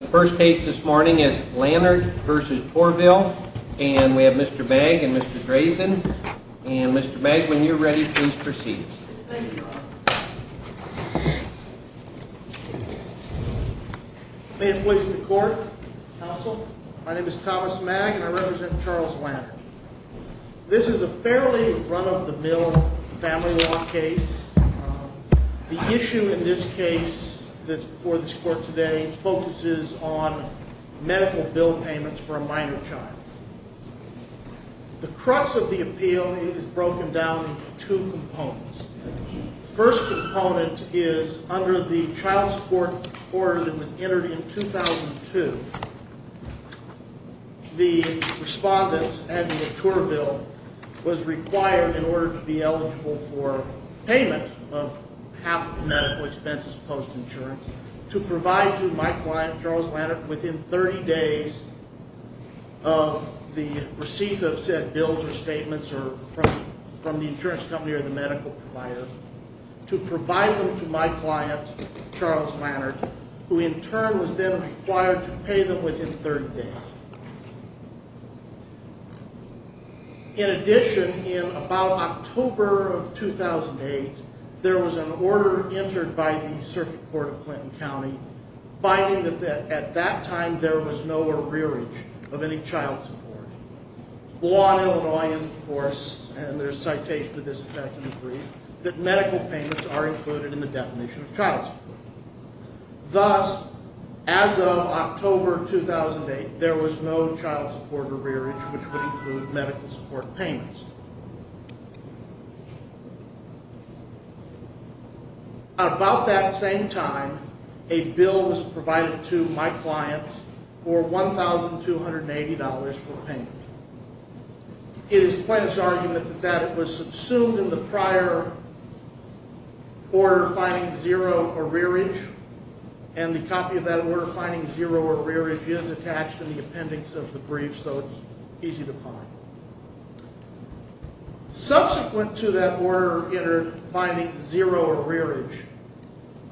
The first case this morning is Lannert v. Tourville, and we have Mr. Bagg and Mr. Grayson, and Mr. Bagg, when you're ready, please proceed. Thank you. May it please the court, counsel. My name is Thomas Magg, and I represent Charles Lannert. This is a fairly run-of-the-mill family law case. The issue in this case that's before this court today focuses on medical bill payments for a minor child. The crux of the appeal is broken down into two components. The first component is under the child support order that was entered in 2002. The respondent, Andrew Tourville, was required in order to be eligible for payment of half of the medical expenses post-insurance to provide to my client, Charles Lannert, within 30 days of the receipt of said bills or statements from the insurance company or the medical provider to provide them to my client, Charles Lannert, who in turn was then required to pay them within 30 days. In addition, in about October of 2008, there was an order entered by the Circuit Court of Clinton County finding that at that time there was no arrearage of any child support. The law in Illinois is, of course, and there's a citation to this effect in the brief, that medical payments are included in the definition of child support. Thus, as of October 2008, there was no child support arrearage which would include medical support payments. At about that same time, a bill was provided to my client for $1,280 for payment. It is the plaintiff's argument that that was subsumed in the prior order finding zero arrearage, and the copy of that order finding zero arrearage is attached to the appendix of the brief, so it's easy to find. Subsequent to that order entered finding zero arrearage,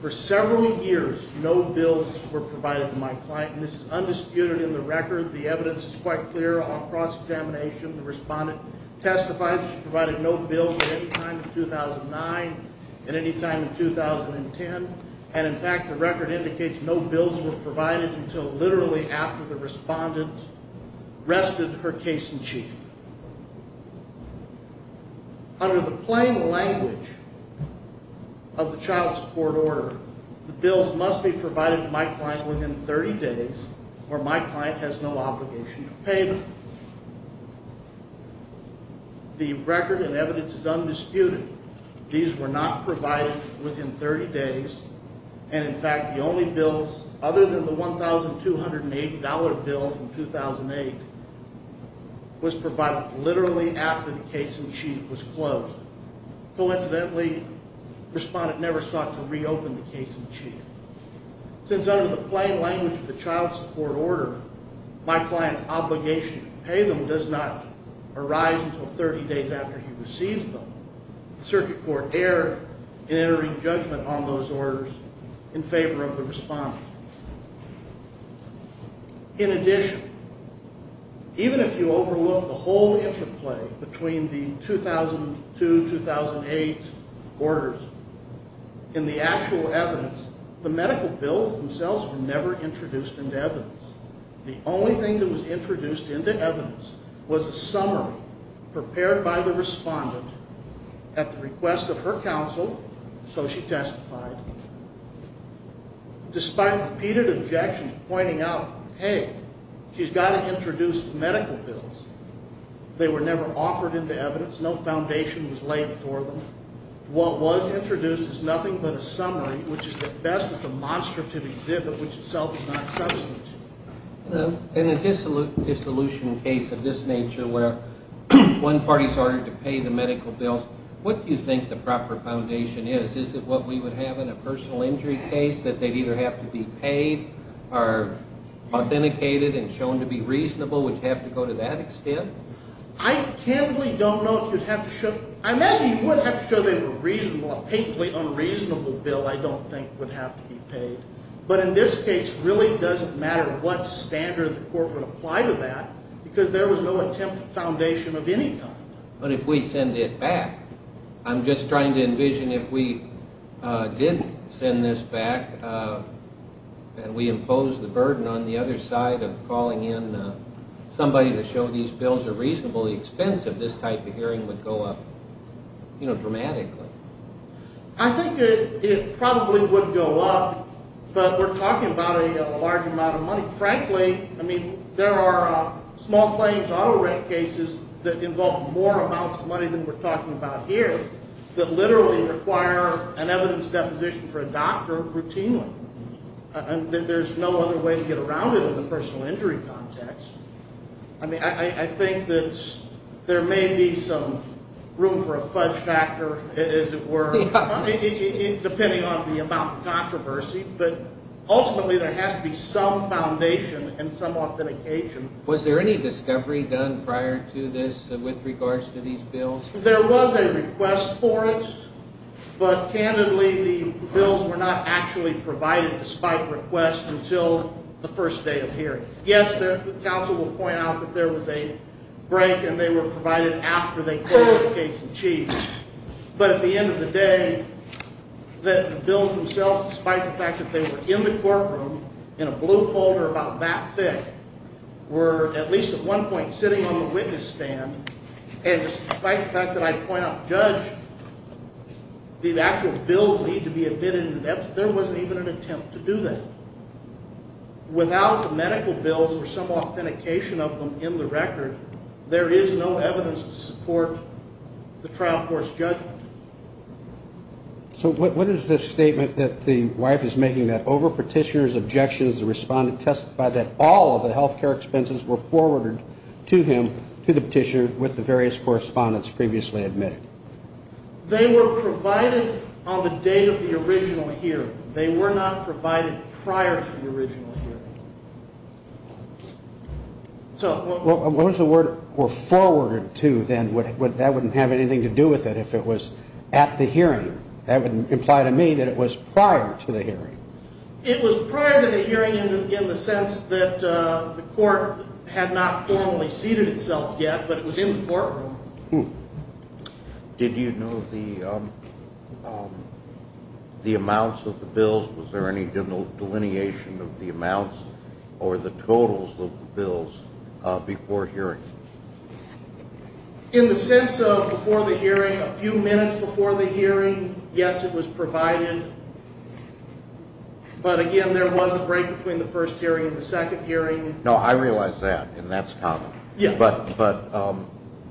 for several years no bills were provided to my client, and this is undisputed in the record. The evidence is quite clear. On cross-examination, the respondent testified that she provided no bills at any time in 2009, at any time in 2010, and in fact the record indicates no bills were provided until literally after the respondent rested her case in chief. Under the plain language of the child support order, the bills must be provided to my client within 30 days, or my client has no obligation to pay them. The record and evidence is undisputed. These were not provided within 30 days, and in fact the only bills other than the $1,280 bill from 2008 was provided literally after the case in chief was closed. Coincidentally, the respondent never sought to reopen the case in chief. Since under the plain language of the child support order, my client's obligation to pay them does not arise until 30 days after he receives them, the circuit court erred in entering judgment on those orders in favor of the respondent. In addition, even if you overlook the whole interplay between the 2002-2008 orders, in the actual evidence, the medical bills themselves were never introduced into evidence. The only thing that was introduced into evidence was a summary prepared by the respondent at the request of her counsel, so she testified. Despite repeated objections pointing out, hey, she's got to introduce medical bills, they were never offered into evidence, no foundation was laid for them. What was introduced is nothing but a summary, which is at best a demonstrative exhibit, which itself is not substantive. In a dissolution case of this nature, where one party's ordered to pay the medical bills, what do you think the proper foundation is? Is it what we would have in a personal injury case, that they'd either have to be paid, or authenticated and shown to be reasonable, would you have to go to that extent? I tendly don't know if you'd have to show, I imagine you would have to show they were reasonable, a patently unreasonable bill, I don't think, would have to be paid. But in this case, it really doesn't matter what standard the court would apply to that, because there was no attempt at foundation of any kind. But if we send it back, I'm just trying to envision if we did send this back, and we imposed the burden on the other side of calling in somebody to show these bills are reasonably expensive, this type of hearing would go up dramatically. I think it probably would go up, but we're talking about a large amount of money. Frankly, I mean, there are small claims auto rent cases that involve more amounts of money than we're talking about here, that literally require an evidence deposition for a doctor routinely. There's no other way to get around it in the personal injury context. I think that there may be some room for a fudge factor, as it were, depending on the amount of controversy, but ultimately there has to be some foundation and some authentication. Was there any discovery done prior to this with regards to these bills? There was a request for it, but candidly, the bills were not actually provided despite request until the first day of hearing. Yes, the counsel will point out that there was a break, and they were provided after they closed the case in chief. But at the end of the day, the bills themselves, despite the fact that they were in the courtroom in a blue folder about that thick, were at least at one point sitting on the witness stand, and despite the fact that I point out, Judge, the actual bills need to be admitted in depth. There wasn't even an attempt to do that. Without the medical bills or some authentication of them in the record, there is no evidence to support the trial court's judgment. So what is this statement that the wife is making that over petitioner's objections, the respondent testified that all of the health care expenses were forwarded to him, to the petitioner, with the various correspondents previously admitted? They were provided on the day of the original hearing. They were not provided prior to the original hearing. So what was the word for forwarded to then? That wouldn't have anything to do with it if it was at the hearing. That would imply to me that it was prior to the hearing. It was prior to the hearing in the sense that the court had not formally seated itself yet, but it was in the courtroom. Did you know the amounts of the bills? Was there any delineation of the amounts or the totals of the bills before hearing? In the sense of before the hearing, a few minutes before the hearing, yes, it was provided. But again, there was a break between the first hearing and the second hearing. No, I realize that, and that's common. But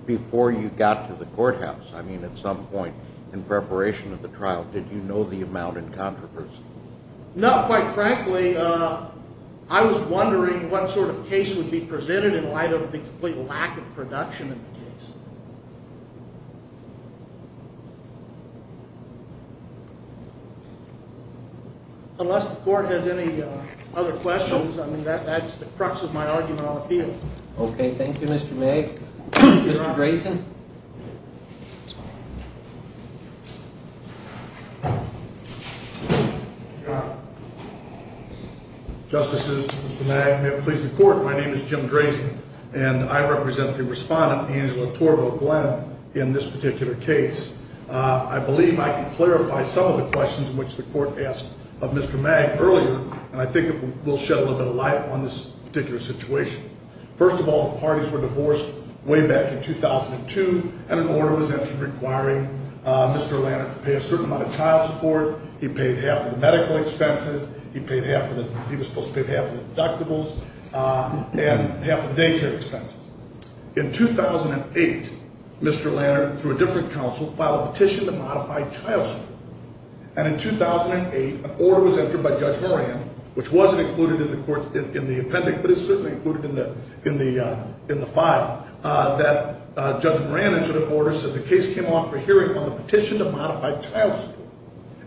before you got to the courthouse, I mean, at some point in preparation of the trial, did you know the amount in controversy? No, quite frankly, I was wondering what sort of case would be presented in light of the complete lack of production of the case. Unless the court has any other questions, I mean, that's the crux of my argument on the field. Okay, thank you, Mr. Magg. Mr. Drazen? Justices, Mr. Magg, may it please the court, my name is Jim Drazen, and I represent the respondent, Angela Torvo Glenn, in this particular case. I believe I can clarify some of the questions which the court asked of Mr. Magg earlier, and I think it will shed a little bit of light on this particular situation. First of all, the parties were divorced way back in 2002, and an order was entered requiring Mr. Lanner to pay a certain amount of child support. He paid half of the medical expenses, he was supposed to pay half of the deductibles, and half of the daycare expenses. In 2008, Mr. Lanner, through a different counsel, filed a petition to modify child support. And in 2008, an order was entered by Judge Moran, which wasn't included in the appendix, but it's certainly included in the file, that Judge Moran entered an order, said the case came off for hearing on the petition to modify child support.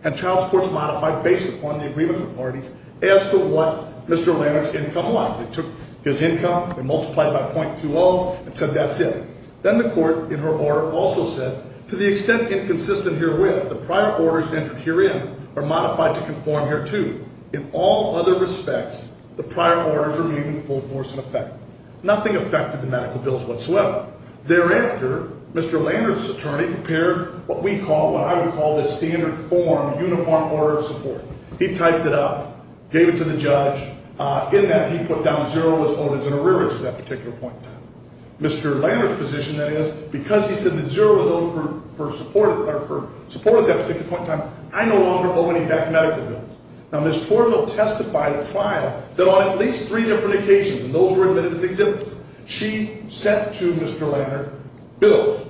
And child support's modified based upon the agreement of the parties as to what Mr. Lanner's income was. They took his income, they multiplied it by .20, and said that's it. Then the court, in her order, also said, to the extent inconsistent herewith, the prior orders entered herein are modified to conform hereto. In all other respects, the prior orders remain in full force in effect. Nothing affected the medical bills whatsoever. Thereafter, Mr. Lanner's attorney prepared what we call, what I would call, the standard form uniform order of support. He typed it up, gave it to the judge. In that, he put down zero as owed as an arrearage to that particular point. Mr. Lanner's position, that is, because he said that zero was owed for support at that particular point in time, I no longer owe any back medical bills. Now, Ms. Torville testified at trial that on at least three different occasions, and those were admitted as exemptions, she sent to Mr. Lanner bills,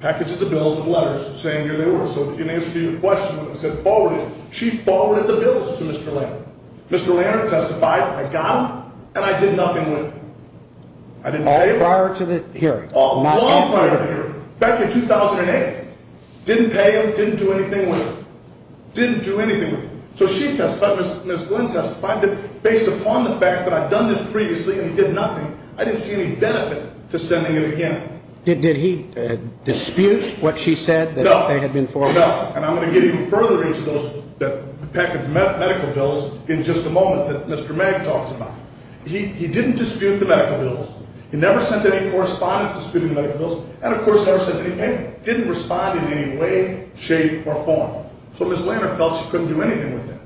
packages of bills with letters saying here they were. So in answer to your question, when I said forwarded, she forwarded the bills to Mr. Lanner. Mr. Lanner testified, I got them, and I did nothing with them. I didn't pay them. All prior to the hearing. All prior to the hearing. Back in 2008. Didn't pay them, didn't do anything with them. Didn't do anything with them. So she testified, Ms. Glynn testified that based upon the fact that I'd done this previously and he did nothing, I didn't see any benefit to sending it again. Did he dispute what she said that they had been forwarded? No, no. And I'm going to get even further into those, the package of medical bills, in just a moment that Mr. Magg talks about. He didn't dispute the medical bills. He never sent any correspondence disputing the medical bills. And, of course, never sent anything. Didn't respond in any way, shape, or form. So Ms. Lanner felt she couldn't do anything with them.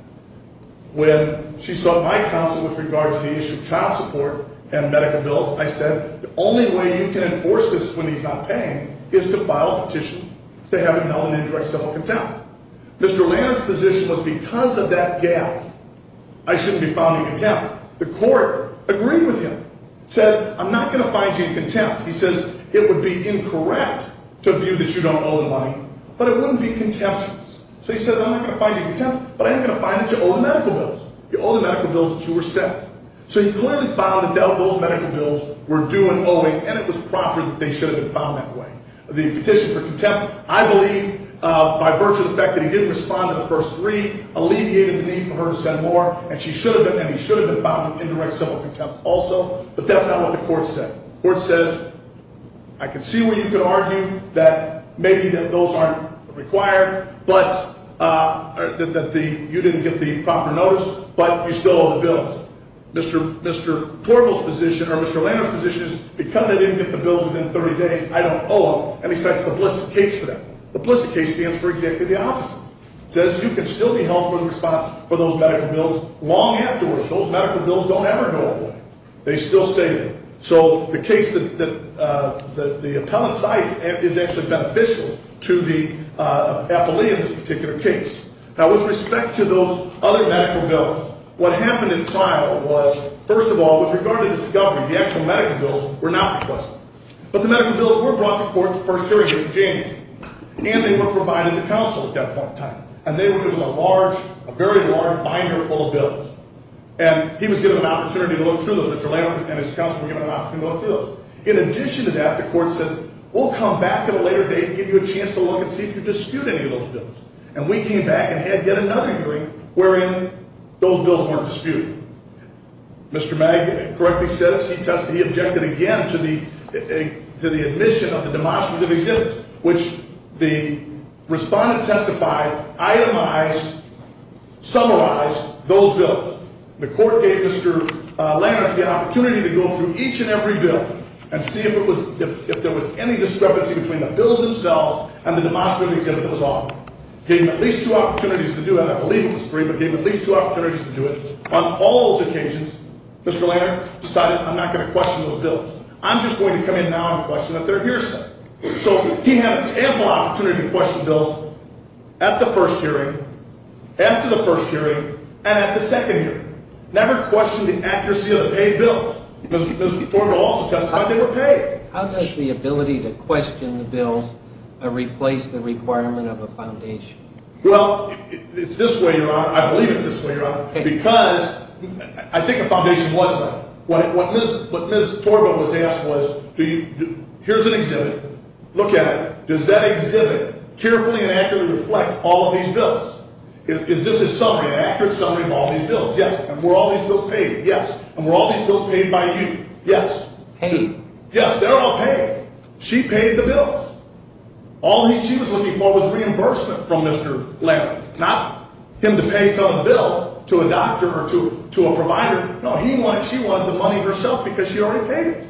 When she sought my counsel with regard to the issue of child support and medical bills, I said the only way you can enforce this when he's not paying is to file a petition to have him held in indirect civil contempt. Mr. Lanner's position was because of that gap, I shouldn't be found in contempt. The court agreed with him. Said, I'm not going to find you in contempt. He says, it would be incorrect to view that you don't owe the money, but it wouldn't be contemptuous. So he said, I'm not going to find you in contempt, but I am going to find that you owe the medical bills. You owe the medical bills that you were sent. So he clearly found that those medical bills were due and owing, and it was proper that they should have been filed that way. The petition for contempt, I believe, by virtue of the fact that he didn't respond to the first three, alleviated the need for her to send more, and he should have been found in indirect civil contempt also. But that's not what the court said. The court says, I can see where you could argue that maybe those aren't required, but that you didn't get the proper notice, but you still owe the bills. Mr. Torvald's position, or Mr. Lanner's position, is because I didn't get the bills within 30 days, I don't owe them. And he sets the Blissett case for that. The Blissett case stands for exactly the opposite. It says you can still be held for those medical bills long afterwards. Those medical bills don't ever go away. They still stay there. So the case that the appellant cites is actually beneficial to the appellee in this particular case. Now, with respect to those other medical bills, what happened in trial was, first of all, with regard to discovery, the actual medical bills were not requested. But the medical bills were brought to court the first hearing in January, and they were provided to counsel at that point in time. And they were given a large, a very large binder full of bills. And he was given an opportunity to look through those. Mr. Lanner and his counsel were given an opportunity to look through those. In addition to that, the court says, we'll come back at a later date and give you a chance to look and see if you dispute any of those bills. And we came back and had yet another hearing wherein those bills weren't disputed. Mr. Magda correctly says he tested, he objected again to the admission of the demonstrative exhibits, which the respondent testified itemized, summarized those bills. The court gave Mr. Lanner the opportunity to go through each and every bill and see if there was any discrepancy between the bills themselves and the demonstrative exhibit that was offered. Gave him at least two opportunities to do that. I believe it was three, but gave him at least two opportunities to do it. On all those occasions, Mr. Lanner decided, I'm not going to question those bills. I'm just going to come in now and question a third-year set. So he had ample opportunity to question bills at the first hearing, after the first hearing, and at the second hearing. Never questioned the accuracy of the paid bills. Mr. Forman also testified they were paid. How does the ability to question the bills replace the requirement of a foundation? Well, it's this way, Your Honor. I believe it's this way, Your Honor, because I think a foundation was there. What Ms. Torba was asked was, here's an exhibit. Look at it. Does that exhibit carefully and accurately reflect all of these bills? Is this a summary, an accurate summary of all these bills? Yes. And were all these bills paid? Yes. And were all these bills paid by you? Yes. Paid. Yes, they're all paid. She paid the bills. All she was looking for was reimbursement from Mr. Landry, not him to pay some bill to a doctor or to a provider. No, she wanted the money herself because she already paid it.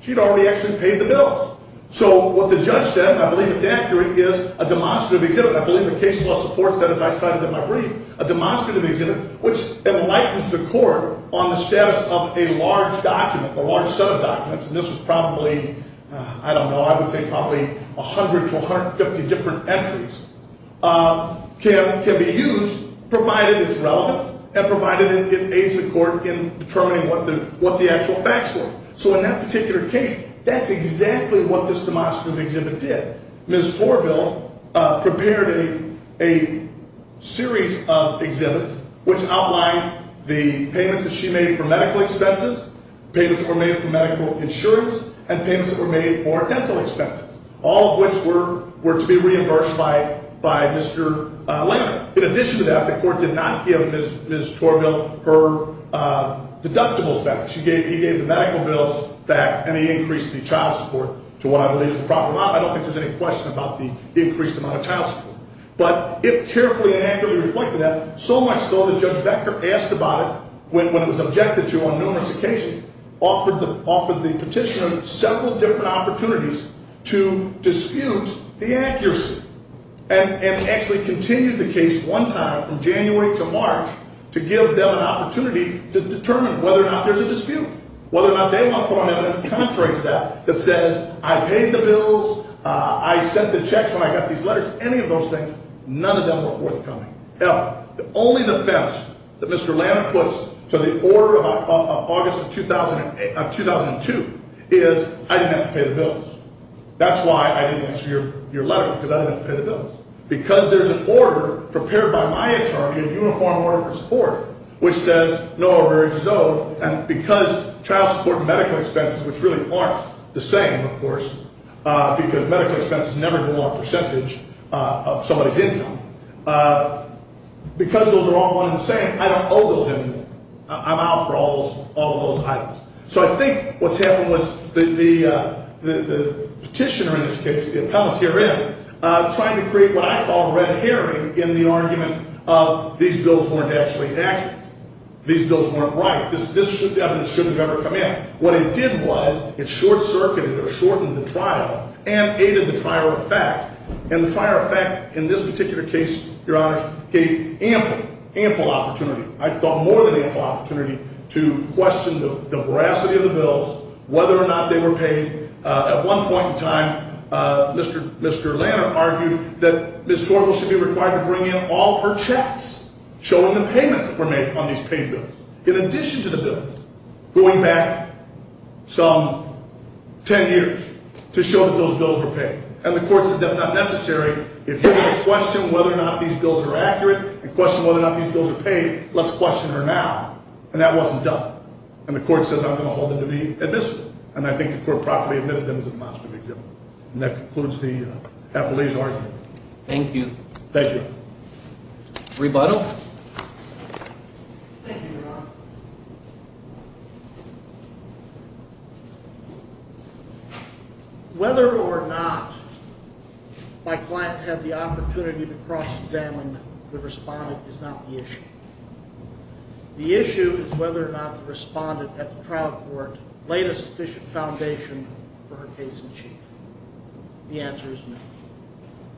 She'd already actually paid the bills. So what the judge said, and I believe it's accurate, is a demonstrative exhibit. I believe the case law supports that, as I cited in my brief. A demonstrative exhibit, which enlightens the court on the status of a large document or large set of documents. And this was probably, I don't know, I would say probably 100 to 150 different entries, can be used provided it's relevant and provided it aids the court in determining what the actual facts were. So in that particular case, that's exactly what this demonstrative exhibit did. Ms. Torville prepared a series of exhibits which outlined the payments that she made for medical expenses, payments that were made for medical insurance, and payments that were made for dental expenses, all of which were to be reimbursed by Mr. Landry. In addition to that, the court did not give Ms. Torville her deductibles back. He gave the medical bills back and he increased the child support to what I believe is the proper amount. I don't think there's any question about the increased amount of child support. But it carefully and angrily reflected that, so much so that Judge Becker asked about it when it was objected to on numerous occasions, offered the petitioner several different opportunities to dispute the accuracy, and actually continued the case one time from January to March to give them an opportunity to determine whether or not there's a dispute, whether or not they want to put on evidence contrary to that that says, I paid the bills, I sent the checks when I got these letters, any of those things, none of them were forthcoming. Now, the only defense that Mr. Landry puts to the order of August of 2002 is, I didn't have to pay the bills. That's why I didn't answer your letter, because I didn't have to pay the bills. Because there's an order prepared by my attorney, a uniform order for support, which says no arrears is owed. And because child support and medical expenses, which really aren't the same, of course, because medical expenses never do more percentage of somebody's income, because those are all one and the same, I don't owe those anymore. I'm out for all of those items. So I think what's happened was the petitioner in this case, the appellants herein, trying to create what I call a red herring in the argument of these bills weren't actually accurate. These bills weren't right. This shouldn't have ever come in. What it did was it short-circuited or shortened the trial and aided the trial effect. And the trial effect in this particular case, Your Honors, gave ample, ample opportunity, I thought more than ample opportunity, to question the veracity of the bills, whether or not they were paid. At one point in time, Mr. Lanner argued that Ms. Torval should be required to bring in all of her checks, showing the payments that were made on these paid bills, in addition to the bills, going back some ten years to show that those bills were paid. And the court said that's not necessary. If you're going to question whether or not these bills are accurate and question whether or not these bills are paid, let's question her now. And that wasn't done. And the court says I'm going to hold them to be admissible. And I think the court properly admitted them as a monster to examine. And that concludes the appellee's argument. Thank you. Thank you. Rebuttal. Thank you, Your Honor. Whether or not my client had the opportunity to cross-examine the respondent is not the issue. The issue is whether or not the respondent at the trial court laid a sufficient foundation for her case in chief. The answer is no.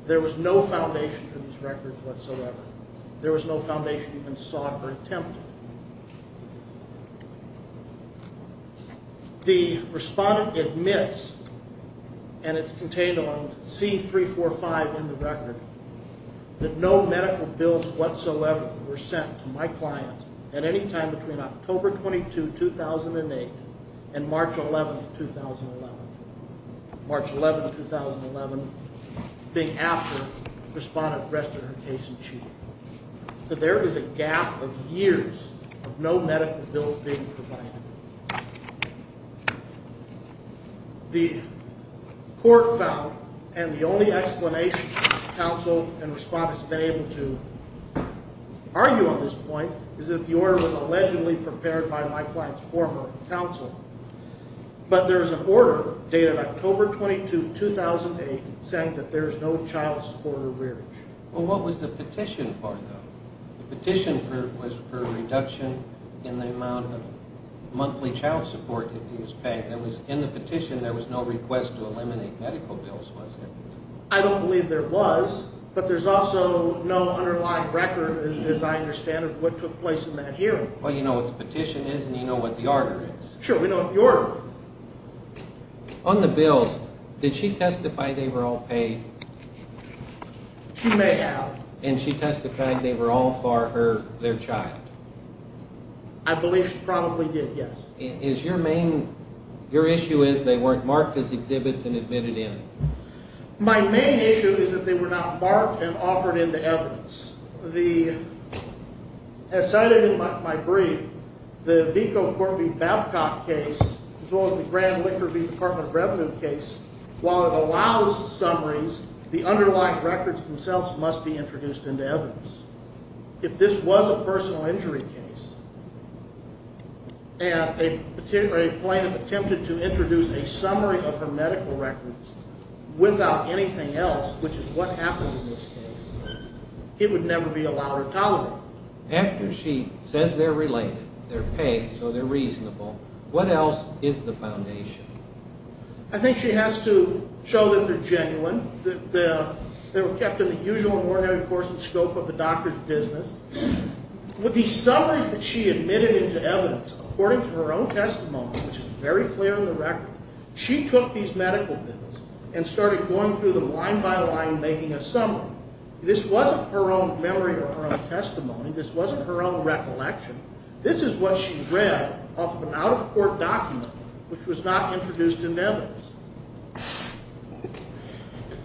There was no foundation for these records whatsoever. There was no foundation even sought or attempted. The respondent admits, and it's contained on C-345 in the record, that no medical bills whatsoever were sent to my client at any time between October 22, 2008, and March 11, 2011. March 11, 2011, the day after the respondent rested her case in chief. So there is a gap of years of no medical bills being provided. The court found, and the only explanation counsel and respondents have been able to argue on this point, is that the order was allegedly prepared by my client's former counsel. But there is an order dated October 22, 2008, saying that there is no child support or rearage. Well, what was the petition for, though? The petition was for a reduction in the amount of monthly child support that he was paid. In the petition, there was no request to eliminate medical bills, was there? I don't believe there was, but there's also no underlying record, as I understand it, of what took place in that hearing. Well, you know what the petition is, and you know what the order is. Sure, we know what the order is. On the bills, did she testify they were all paid? She may have. And she testified they were all for her, their child? I believe she probably did, yes. Is your main—your issue is they weren't marked as exhibits and admitted in? My main issue is that they were not marked and offered into evidence. As cited in my brief, the Vico-Corby-Babcock case, as well as the Grand Liquor v. Department of Revenue case, while it allows summaries, the underlying records themselves must be introduced into evidence. If this was a personal injury case and a plaintiff attempted to introduce a summary of her medical records without anything else, which is what happened in this case, it would never be allowed or tolerated. After she says they're related, they're paid, so they're reasonable, what else is the foundation? I think she has to show that they're genuine, that they were kept in the usual ordinary course and scope of the doctor's business. With these summaries that she admitted into evidence, according to her own testimony, which is very clear in the record, she took these medical bills and started going through them line by line, making a summary. This wasn't her own memory or her own testimony. This wasn't her own recollection. This is what she read off of an out-of-court document which was not introduced into evidence.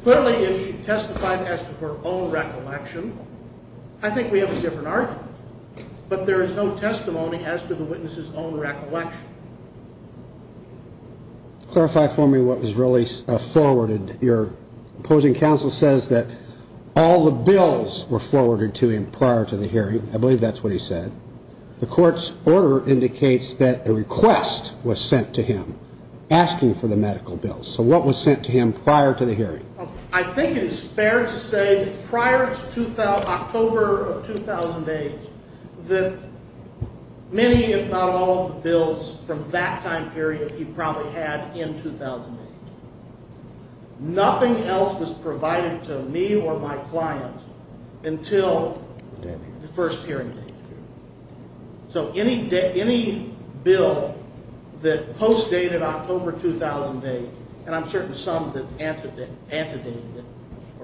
Clearly, if she testified as to her own recollection, I think we have a different argument. But there is no testimony as to the witness's own recollection. Clarify for me what was really forwarded. Your opposing counsel says that all the bills were forwarded to him prior to the hearing. I believe that's what he said. The court's order indicates that a request was sent to him asking for the medical bills. So what was sent to him prior to the hearing? I think it is fair to say prior to October of 2008 that many, if not all, bills from that time period he probably had in 2008. Nothing else was provided to me or my client until the first hearing. So any bill that post-dated October 2008, and I'm certain some that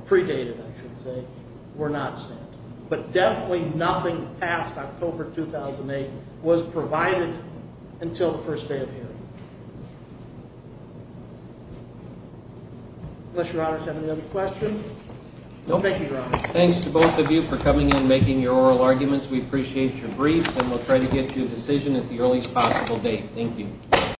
predated it, were not sent. But definitely nothing past October 2008 was provided until the first day of hearing. Unless Your Honor has any other questions? Thank you, Your Honor. Thanks to both of you for coming in and making your oral arguments. We appreciate your briefs, and we'll try to get to a decision at the earliest possible date. Thank you.